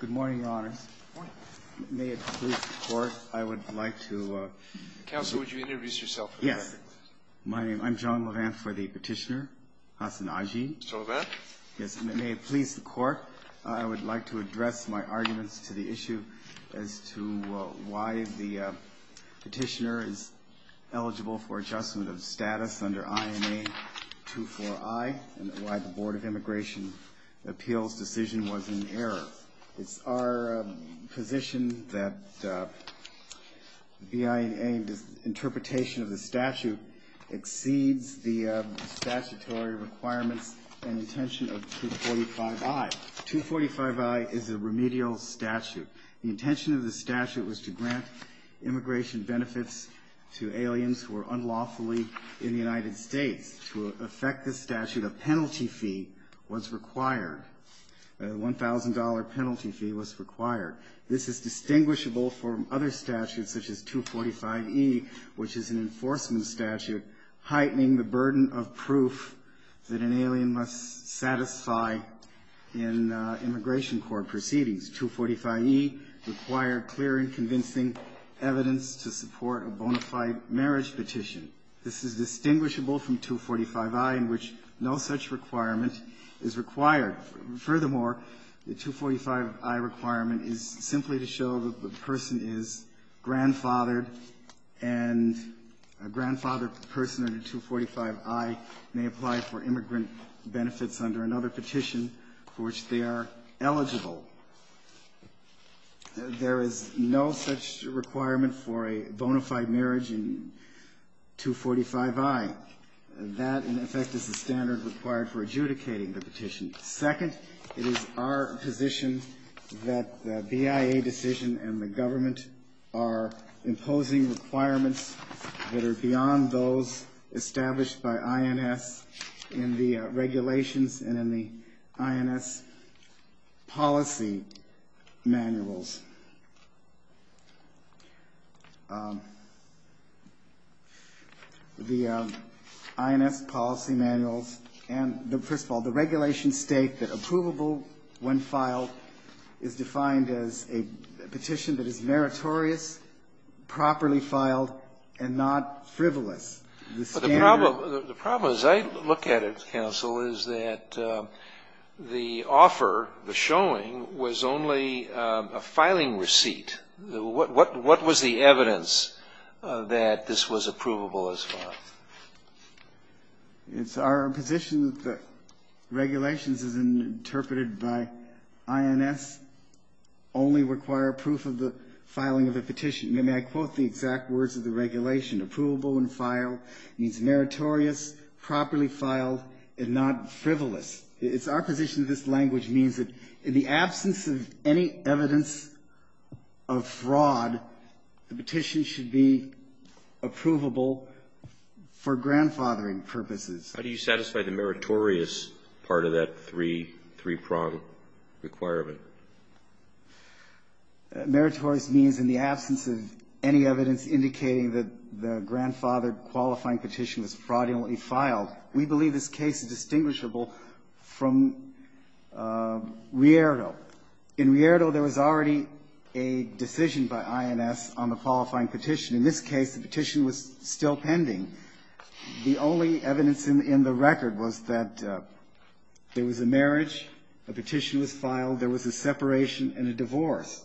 Good morning, Your Honors. May it please the Court, I would like to... Counsel, would you introduce yourself? Yes. My name... I'm John Levant for the petitioner, Hasan Aji. John Levant. Yes. May it please the Court, I would like to address my arguments to the issue as to why the petitioner is eligible for adjustment of status under IMA 24I, and why the Board of Immigration Appeals decision was in error. It's our position that the interpretation of the statute exceeds the statutory requirements and intention of 245I. 245I is a remedial statute. The intention of the statute was to grant immigration benefits to aliens who are unlawfully in the United States. To effect this statute, a penalty fee was required. A $1,000 penalty fee was required. This is distinguishable from other statutes, such as 245E, which is an enforcement statute, heightening the burden of proof that an alien must satisfy in immigration court proceedings. 245E required clear and convincing evidence to support a bona fide marriage petition. This is distinguishable from 245I in which no such requirement is required. Furthermore, the 245I requirement is simply to show that the person is grandfathered and a grandfathered person under 245I may apply for immigrant benefits under another petition for which they are eligible. There is no such requirement for a bona fide marriage in 245I. That, in effect, is the standard required for adjudicating the petition. Second, it is our position that the BIA decision and the government are imposing requirements that are beyond those established by INS in the regulations and in the INS policy manuals. The INS policy manuals and, first of all, the regulations state that approvable when filed is defined as a petition that is meritorious, properly filed, and not frivolous. The standard of the petition is a petition that is meritorious, properly filed, and not frivolous. The standard of the petition is a petition that is meritorious, properly filed, and not frivolous. The problem as I look at it, counsel, is that the offer, the showing, was only a filing receipt. What was the evidence that this was approvable as well? It's our position that the regulations as interpreted by INS only require proof of the filing of a petition. May I quote the exact words of the regulation? Approvable and filed means meritorious, properly filed, and not frivolous. It's our position that this language means that in the absence of any evidence of fraud, the petition should be approvable for grandfathering purposes. How do you satisfy the meritorious part of that three-prong requirement? Meritorious means in the absence of any evidence indicating that the grandfathered qualifying petition was fraudulently filed. We believe this case is distinguishable from Rierdo. In Rierdo, there was already a decision by INS on the qualifying petition. In this case, the petition was still pending. The only evidence in the record was that there was a marriage, a petition was filed, there was a separation and a divorce.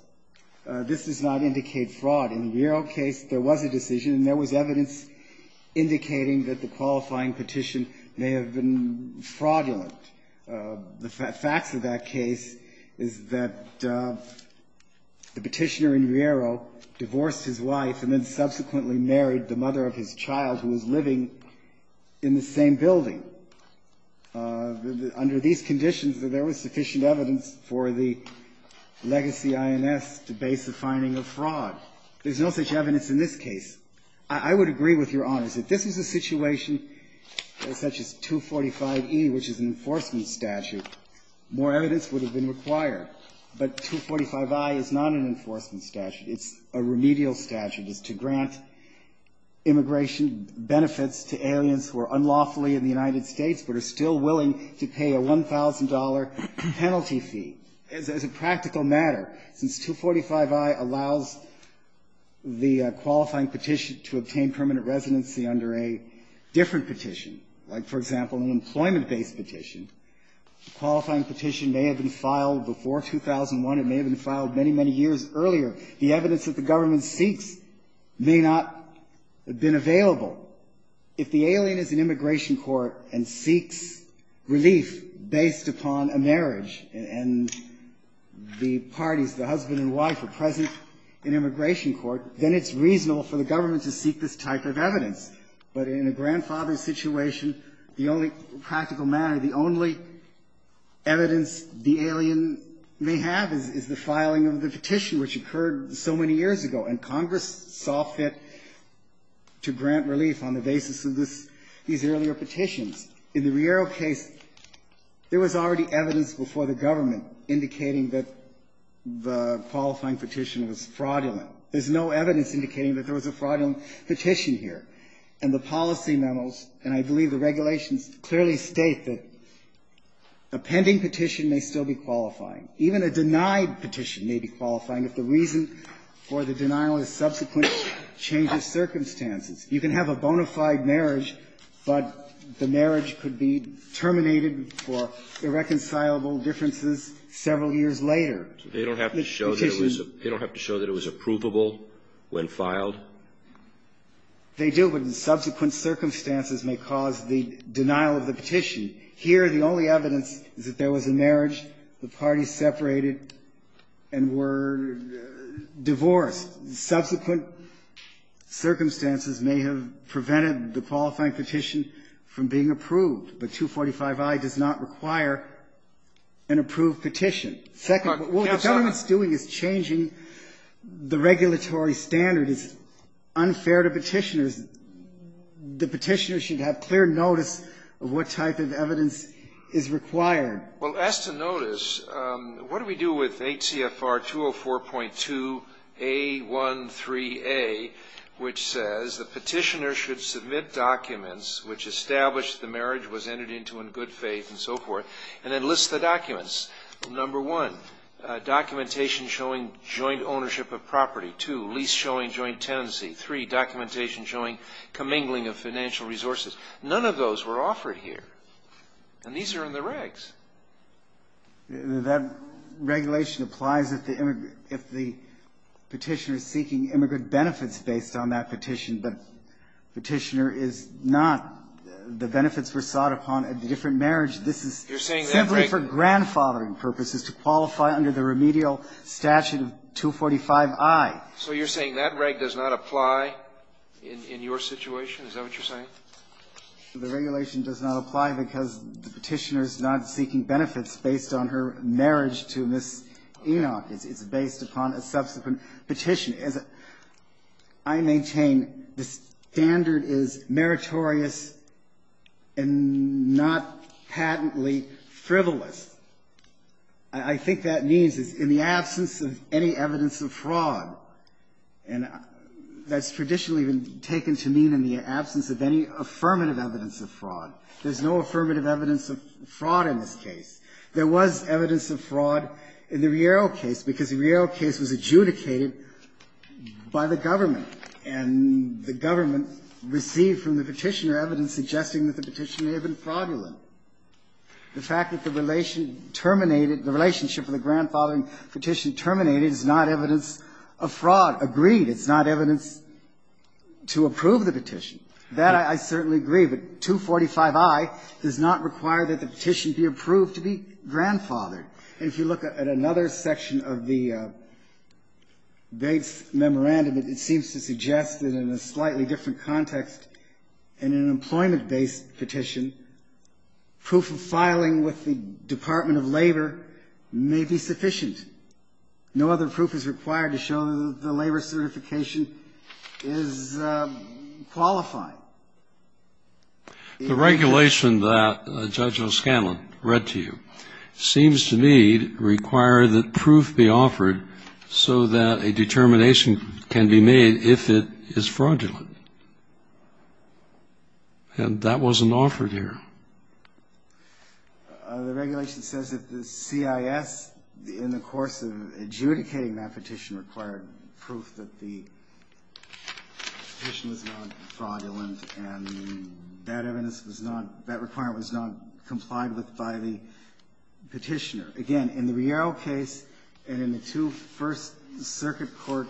This does not indicate fraud. In Rierdo's case, there was a decision and there was evidence indicating that the qualifying petition may have been fraudulent. The facts of that case is that the petitioner in Rierdo divorced his wife and then subsequently married the mother of his child, who was living in the same building. Under these conditions, there was sufficient evidence for the legacy INS to base the finding of fraud. There's no such evidence in this case. I would agree with Your Honors that if this was a situation such as 245e, which is an enforcement statute, more evidence would have been required. But 245i is not an enforcement statute. It's a remedial statute. It's to grant immigration benefits to aliens who are unlawfully in the United States but are still willing to pay a $1,000 penalty fee. As a practical matter, since 245i allows the qualifying petition to obtain permanent residency under a different petition, like, for example, an employment-based petition, the qualifying petition may have been filed before 2001. It may have been filed many, many years earlier. The evidence that the government seeks may not have been available. If the alien is in immigration court and seeks relief based upon a marriage and the parties, the husband and wife, are present in immigration court, then it's reasonable for the government to seek this type of evidence. But in a grandfather's situation, the only practical matter, the only evidence the alien may have is the filing of the petition, which occurred so many years ago, and In the Riero case, there was already evidence before the government indicating that the qualifying petition was fraudulent. There's no evidence indicating that there was a fraudulent petition here. And the policy memos, and I believe the regulations, clearly state that a pending petition may still be qualifying. Even a denied petition may be qualifying if the reason for the denial is subsequent change of circumstances. You can have a bona fide marriage, but the marriage could be terminated for irreconcilable differences several years later. They don't have to show that it was approvable when filed? They do, but subsequent circumstances may cause the denial of the petition. Here, the only evidence is that there was a marriage. The parties separated and were divorced. Subsequent circumstances may have prevented the qualifying petition from being approved, but 245i does not require an approved petition. Second, what the government's doing is changing the regulatory standard. It's unfair to Petitioners. The Petitioners should have clear notice of what type of evidence is required. Well, as to notice, what do we do with H.C.F.R. 204.2A13A, which says the Petitioners should submit documents which establish the marriage was entered into in good faith and so forth, and then list the documents. Number one, documentation showing joint ownership of property. Two, lease showing joint tenancy. Three, documentation showing commingling of financial resources. None of those were offered here. And these are in the regs. That regulation applies if the Petitioner is seeking immigrant benefits based on that petition, but Petitioner is not. The benefits were sought upon a different marriage. This is simply for grandfathering purposes, to qualify under the remedial statute of 245i. So you're saying that reg does not apply in your situation? Is that what you're saying? The regulation does not apply because the Petitioner is not seeking benefits based on her marriage to Ms. Enoch. It's based upon a subsequent petition. As I maintain, the standard is meritorious and not patently frivolous. I think that means it's in the absence of any evidence of fraud. And that's traditionally been taken to mean in the absence of any affirmative evidence of fraud. There's no affirmative evidence of fraud in this case. There was evidence of fraud in the Riero case because the Riero case was adjudicated by the government, and the government received from the Petitioner evidence suggesting that the Petitioner had been fraudulent. The fact that the relation terminated, the relationship of the grandfathering terminated is not evidence of fraud agreed. It's not evidence to approve the petition. That I certainly agree, but 245i does not require that the petition be approved to be grandfathered. And if you look at another section of the Bates memorandum, it seems to suggest that in a slightly different context, in an employment-based petition, proof of filing with the Department of Labor may be sufficient. No other proof is required to show that the labor certification is qualified. The regulation that Judge O'Scanlan read to you seems to me require that proof be offered so that a determination can be made if it is fraudulent. And that wasn't offered here. The regulation says that the CIS, in the course of adjudicating that petition, required proof that the petition was not fraudulent and that evidence was not, that requirement was not complied with by the Petitioner. Again, in the Riero case and in the two First Circuit Court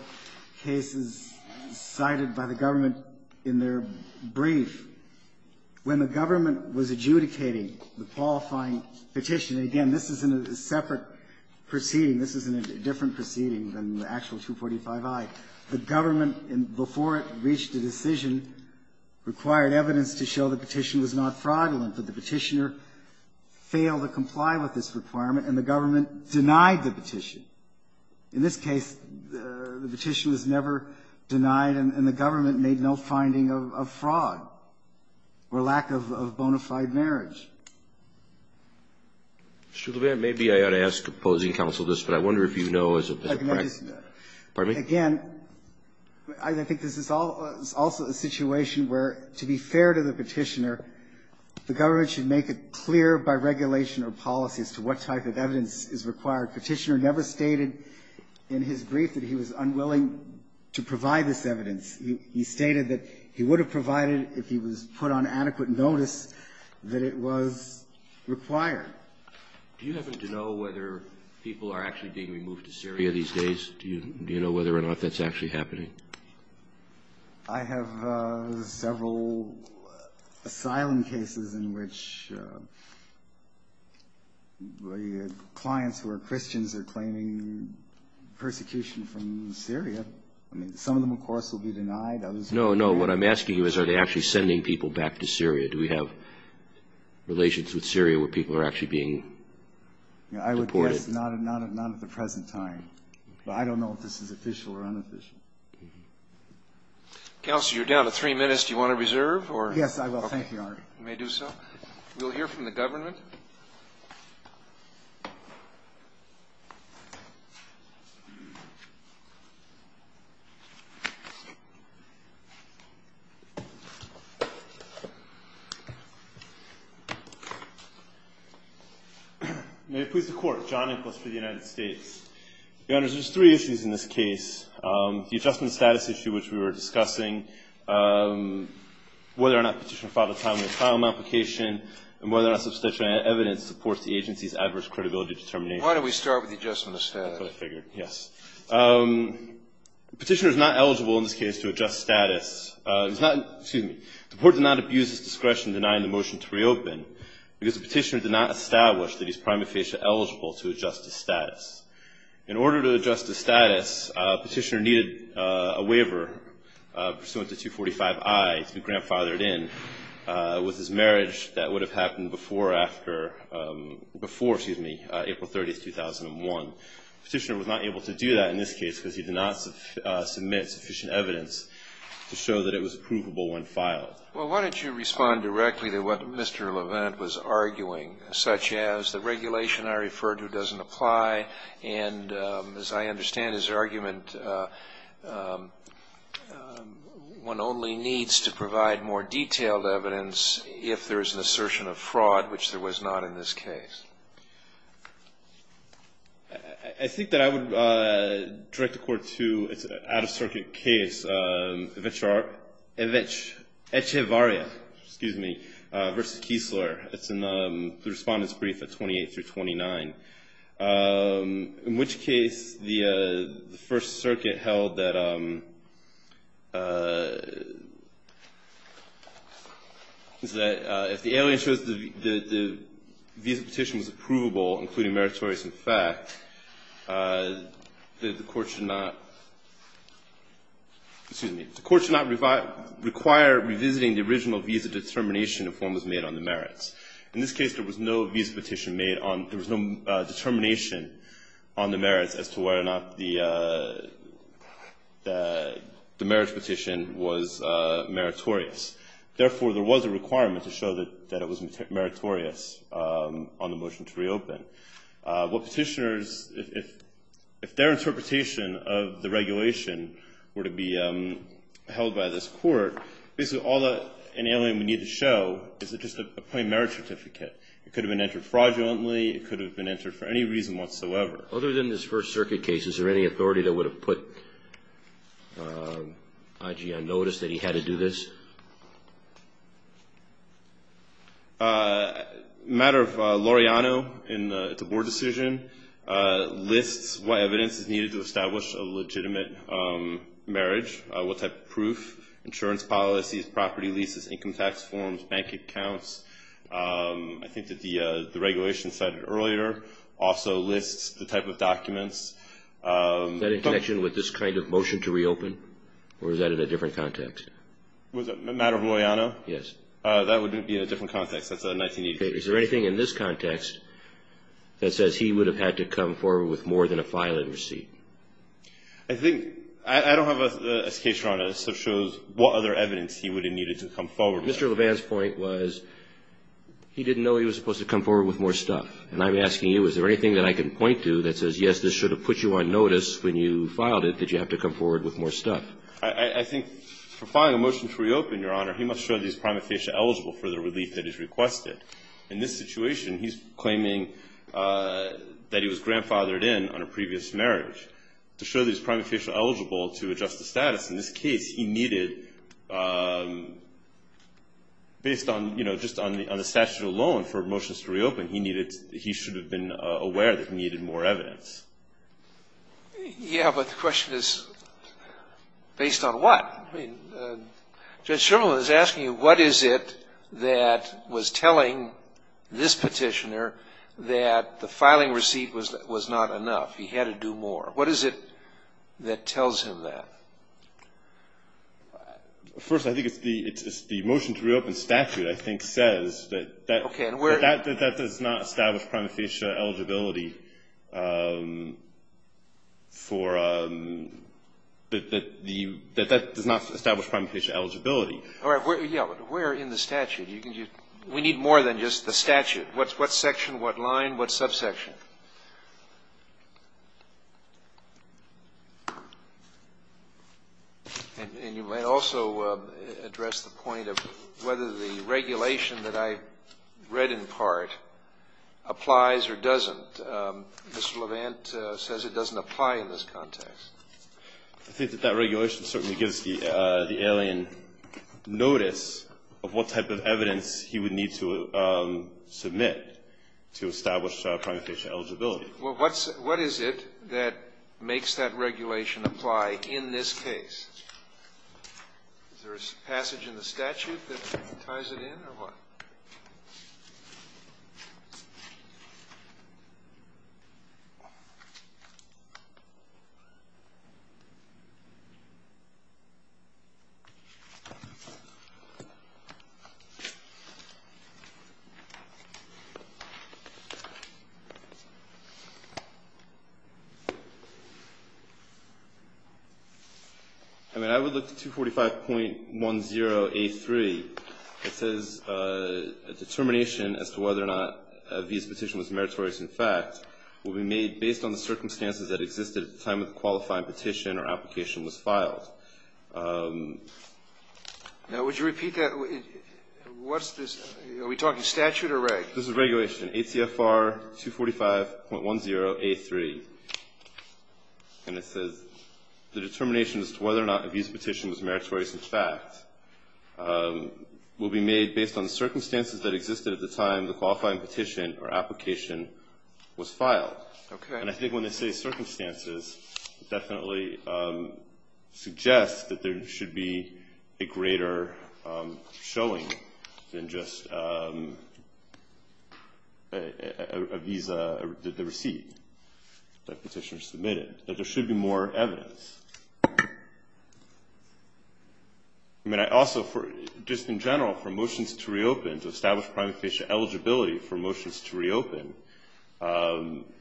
cases cited by the government in their brief, when the government was adjudicating the qualifying petition, again, this is in a separate proceeding. This is in a different proceeding than the actual 245i. The government, before it reached a decision, required evidence to show the petition was not fraudulent, but the Petitioner failed to comply with this requirement and the government denied the petition. In this case, the petition was never denied and the government made no finding of fraud or lack of bona fide marriage. Mr. Levin, maybe I ought to ask opposing counsel this, but I wonder if you know as a practice. Pardon me? Again, I think this is also a situation where, to be fair to the Petitioner, the government should make it clear by regulation or policy as to what type of evidence is required. Petitioner never stated in his brief that he was unwilling to provide this evidence. He stated that he would have provided it if he was put on adequate notice that it was required. Do you happen to know whether people are actually being removed to Syria these days? Do you know whether or not that's actually happening? I have several asylum cases in which clients who are Christians are claiming persecution from Syria. I mean, some of them, of course, will be denied. No, no. What I'm asking you is are they actually sending people back to Syria? Do we have relations with Syria where people are actually being deported? I would guess not at the present time, but I don't know if this is official or unofficial. Counsel, you're down to three minutes. Do you want to reserve? Yes, I will. Thank you, Your Honor. You may do so. We'll hear from the government. May it please the Court. John Nicholas for the United States. Your Honors, there's three issues in this case. The adjustment of status issue, which we were discussing, whether or not Petitioner filed a timely asylum application, and whether or not substantial evidence supports the agency's adverse credibility determination. Why don't we start with the adjustment of status? That's what I figured. Yes. Petitioner is not eligible in this case to adjust status. He's not — excuse me. The Court did not abuse his discretion in denying the motion to reopen because the Petitioner did not establish that he's prima facie eligible to adjust his status. In order to adjust his status, Petitioner needed a waiver pursuant to 245I to be grandfathered in. With his marriage, that would have happened before or after — before, excuse me, April 30, 2001. Petitioner was not able to do that in this case because he did not submit sufficient evidence to show that it was approvable when filed. Well, why don't you respond directly to what Mr. Levent was arguing, such as the regulation I referred to doesn't apply, and as I understand his argument, one only needs to provide more detailed evidence if there is an assertion of fraud, which there was not in this case. I think that I would direct the Court to an out-of-circuit case, Echevarria v. Kiesler. It's in the Respondent's Brief at 28 through 29, in which case the First Circuit held that if the alien shows that the visa petition was approvable, including meritorious in fact, the Court should not — excuse me — the Court should not require revisiting the original visa determination if one was made on the merits. In this case, there was no visa petition made on — there was no determination on the merits as to whether or not the marriage petition was meritorious. Therefore, there was a requirement to show that it was meritorious on the motion to reopen. What petitioners — if their interpretation of the regulation were to be held by this Court, basically all that an alien would need to show is that it's just a plain merits certificate. It could have been entered fraudulently. It could have been entered for any reason whatsoever. Other than this First Circuit case, is there any authority that would have put Aji on notice that he had to do this? A matter of loriano in the board decision lists what evidence is needed to establish a legitimate marriage, what type of proof, insurance policies, property leases, income tax forms, bank accounts. I think that the regulation cited earlier also lists the type of documents — Is that in connection with this kind of motion to reopen, or is that in a different context? Was it a matter of loriano? Yes. That would be in a different context. That's a 1980 case. Is there anything in this context that says he would have had to come forward with more than a filing receipt? I think — I don't have a case run as to what other evidence he would have needed to come forward with. Mr. Levan's point was he didn't know he was supposed to come forward with more stuff. And I'm asking you, is there anything that I can point to that says, yes, this should have put you on notice when you filed it that you have to come forward with more stuff? I think for filing a motion to reopen, Your Honor, he must show that he's prima facie eligible for the relief that is requested. In this situation, he's claiming that he was grandfathered in on a previous marriage. To show that he's prima facie eligible to adjust the status in this case, he needed — based on, you know, just on the statute alone for motions to reopen, he needed — he should have been aware that he needed more evidence. Yeah, but the question is, based on what? I mean, Judge Sherman is asking you, what is it that was telling this petitioner that the filing receipt was not enough? He had to do more. What is it that tells him that? First, I think it's the motion to reopen statute, I think, says that — Okay, and where — That does not establish prima facie eligibility for — that does not establish prima facie eligibility. Yeah, but where in the statute? We need more than just the statute. What section, what line, what subsection? And you might also address the point of whether the regulation that I read in part applies or doesn't. Mr. Levant says it doesn't apply in this context. I think that that regulation certainly gives the alien notice of what type of evidence he would need to submit to establish prima facie eligibility. Well, what is it that makes that regulation apply in this case? Is there a passage in the statute that ties it in, or what? I mean, I would look to 245.10A3. Now, would you repeat that? What's this? Are we talking statute or regulation? This is regulation, ACFR 245.10A3. And it says the determination as to whether or not a visa petition was meritorious petition or application was filed. based on the circumstances that existed at the time the qualifying petition or application was filed. And I think when they say circumstances, it definitely suggests that there should be a greater showing than just a visa, the receipt that petitioners submitted, that there should be more evidence. I mean, I also, just in general, for motions to reopen, to establish prima facie eligibility for motions to reopen,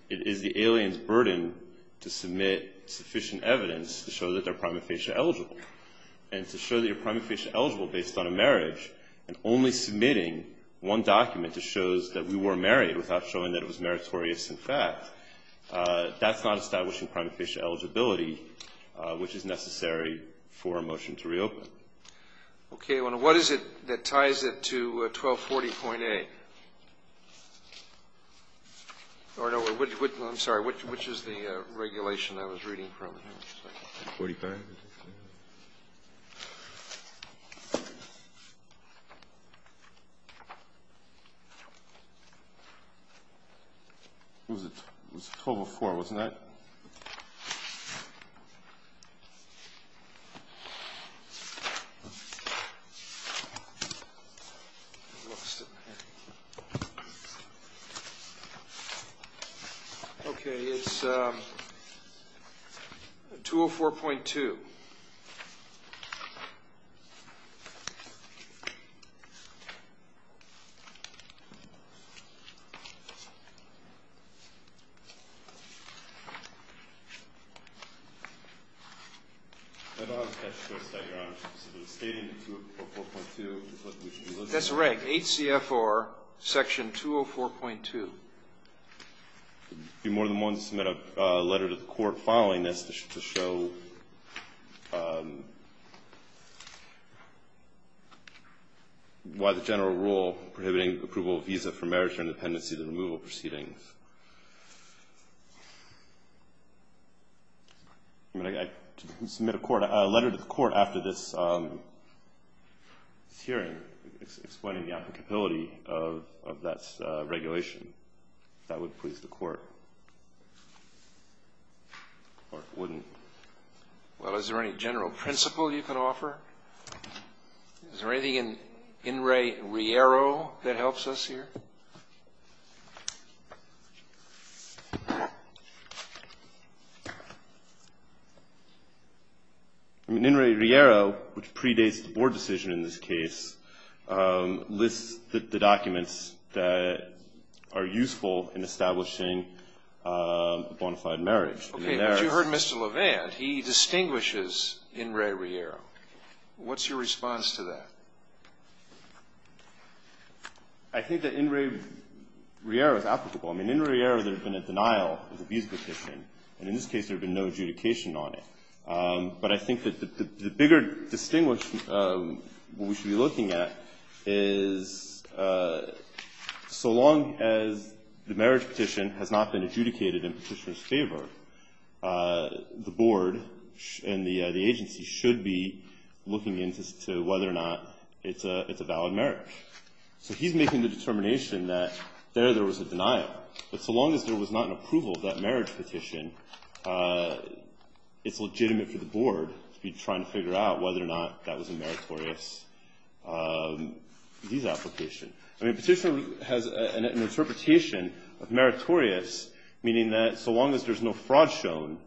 it is the alien's burden to submit sufficient evidence to show that they're prima facie eligible. And to show that you're prima facie eligible based on a marriage and only submitting one document that shows that we were married without showing that it was meritorious in fact, that's not establishing prima facie eligibility. Which is necessary for a motion to reopen. Okay. What is it that ties it to 1240.A? I'm sorry, which is the regulation I was reading from? Forty-five. It was 1204, wasn't it? Okay. It's 204.2. That's right. HCFR section 204.2. It would be more than one to submit a letter to the court following this to show why the general rule prohibiting approval of visa for marriage or independency of the removal proceedings. I submit a letter to the court after this hearing explaining the applicability of that regulation. If that would please the court. Or it wouldn't. Well, is there any general principle you can offer? Is there anything in In re Riero that helps us here? In re Riero, which predates the board decision in this case, lists the documents that are useful in establishing bona fide marriage. Okay. But you heard Mr. Levant. He distinguishes In re Riero. What's your response to that? I think that In re Riero is applicable. I mean, in re Riero, there's been a denial of the visa petition. And in this case, there's been no adjudication on it. But I think that the bigger distinguish we should be looking at is so long as the marriage the board and the agency should be looking into whether or not it's a valid marriage. So he's making the determination that there there was a denial. But so long as there was not an approval of that marriage petition, it's legitimate for the board to be trying to figure out whether or not that was a meritorious visa application. I mean, petition has an interpretation of meritorious, meaning that so long as there's no fraud shown,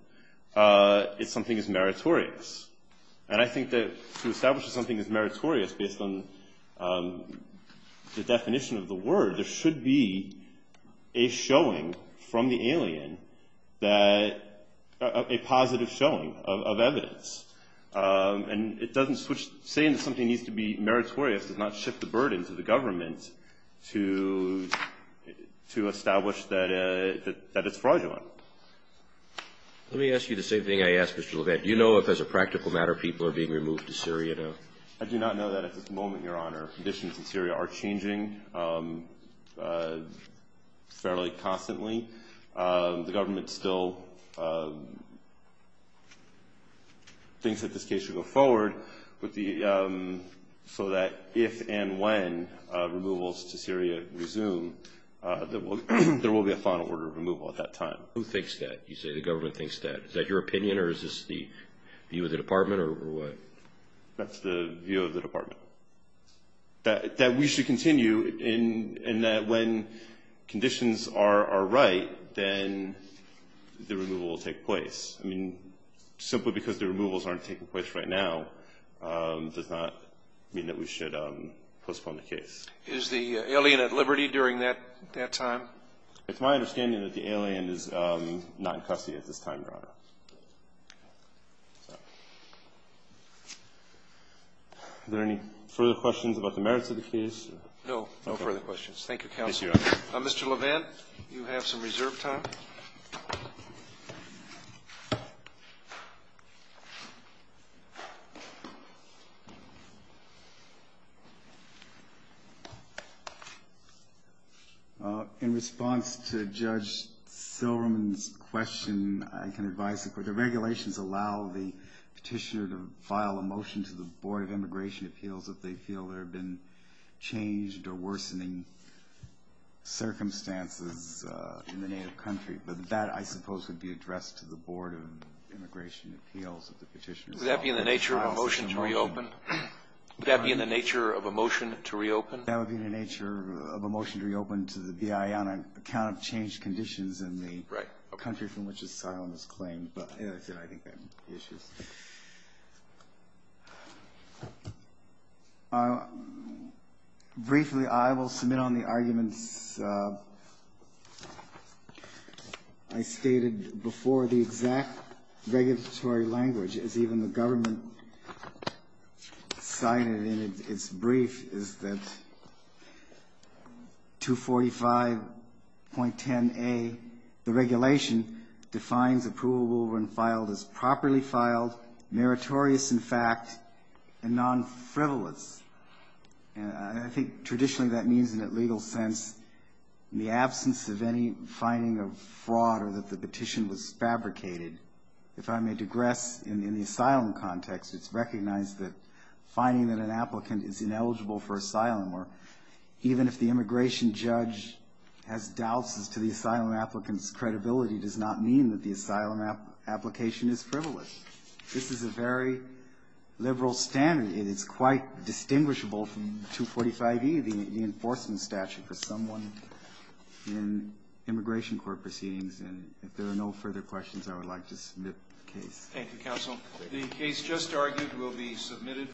something is meritorious. And I think that to establish that something is meritorious based on the definition of the word, there should be a showing from the alien, a positive showing of evidence. And it doesn't switch saying that something needs to be meritorious, does not shift the burden to the government to to establish that that it's fraudulent. Let me ask you the same thing I asked. You know, if as a practical matter, people are being removed to Syria. I do not know that at this moment. Your Honor, conditions in Syria are changing fairly constantly. The government still thinks that this case should go forward with the so that if and when removals to Syria resume, there will be a final order of removal at that time. Who thinks that you say the government thinks that is that your opinion or is this the view of the department or what? That's the view of the department. That we should continue in that when conditions are right, then the removal will take place. I mean, simply because the removals aren't taking place right now does not mean that we should postpone the case. Is the alien at liberty during that time? It's my understanding that the alien is not in custody at this time, Your Honor. Is there any further questions about the merits of the case? No. No further questions. Thank you, counsel. Mr. Levin, you have some reserve time. In response to Judge Silberman's question, I can advise that the regulations allow the petitioner to file a motion to the Board of Immigration Appeals if they feel there have been changed or worsening circumstances in the native country. But that, I suppose, would be addressed to the Board of Immigration Appeals if the petitioner filed a motion. Would that be in the nature of a motion to reopen? That would be in the nature of a motion to reopen to the BIA on account of changed conditions in the country from which asylum is claimed. But, as I said, I think that would be the issue. Briefly, I will submit on the arguments I stated before. The exact regulatory language, as even the government cited in its brief, is that 245.10a, the regulation, defines approvable when filed as properly filed, meritorious in fact, and non-frivolous. And I think traditionally that means in a legal sense in the absence of any finding of fraud or that the petition was fabricated. If I may digress, in the asylum context, it's recognized that finding that an applicant is ineligible for asylum, or even if the immigration judge has doubts as to the asylum applicant's credibility, does not mean that the asylum application is frivolous. This is a very liberal standard, and it's quite distinguishable from 245e, the enforcement statute, for someone in immigration court to be ineligible for asylum.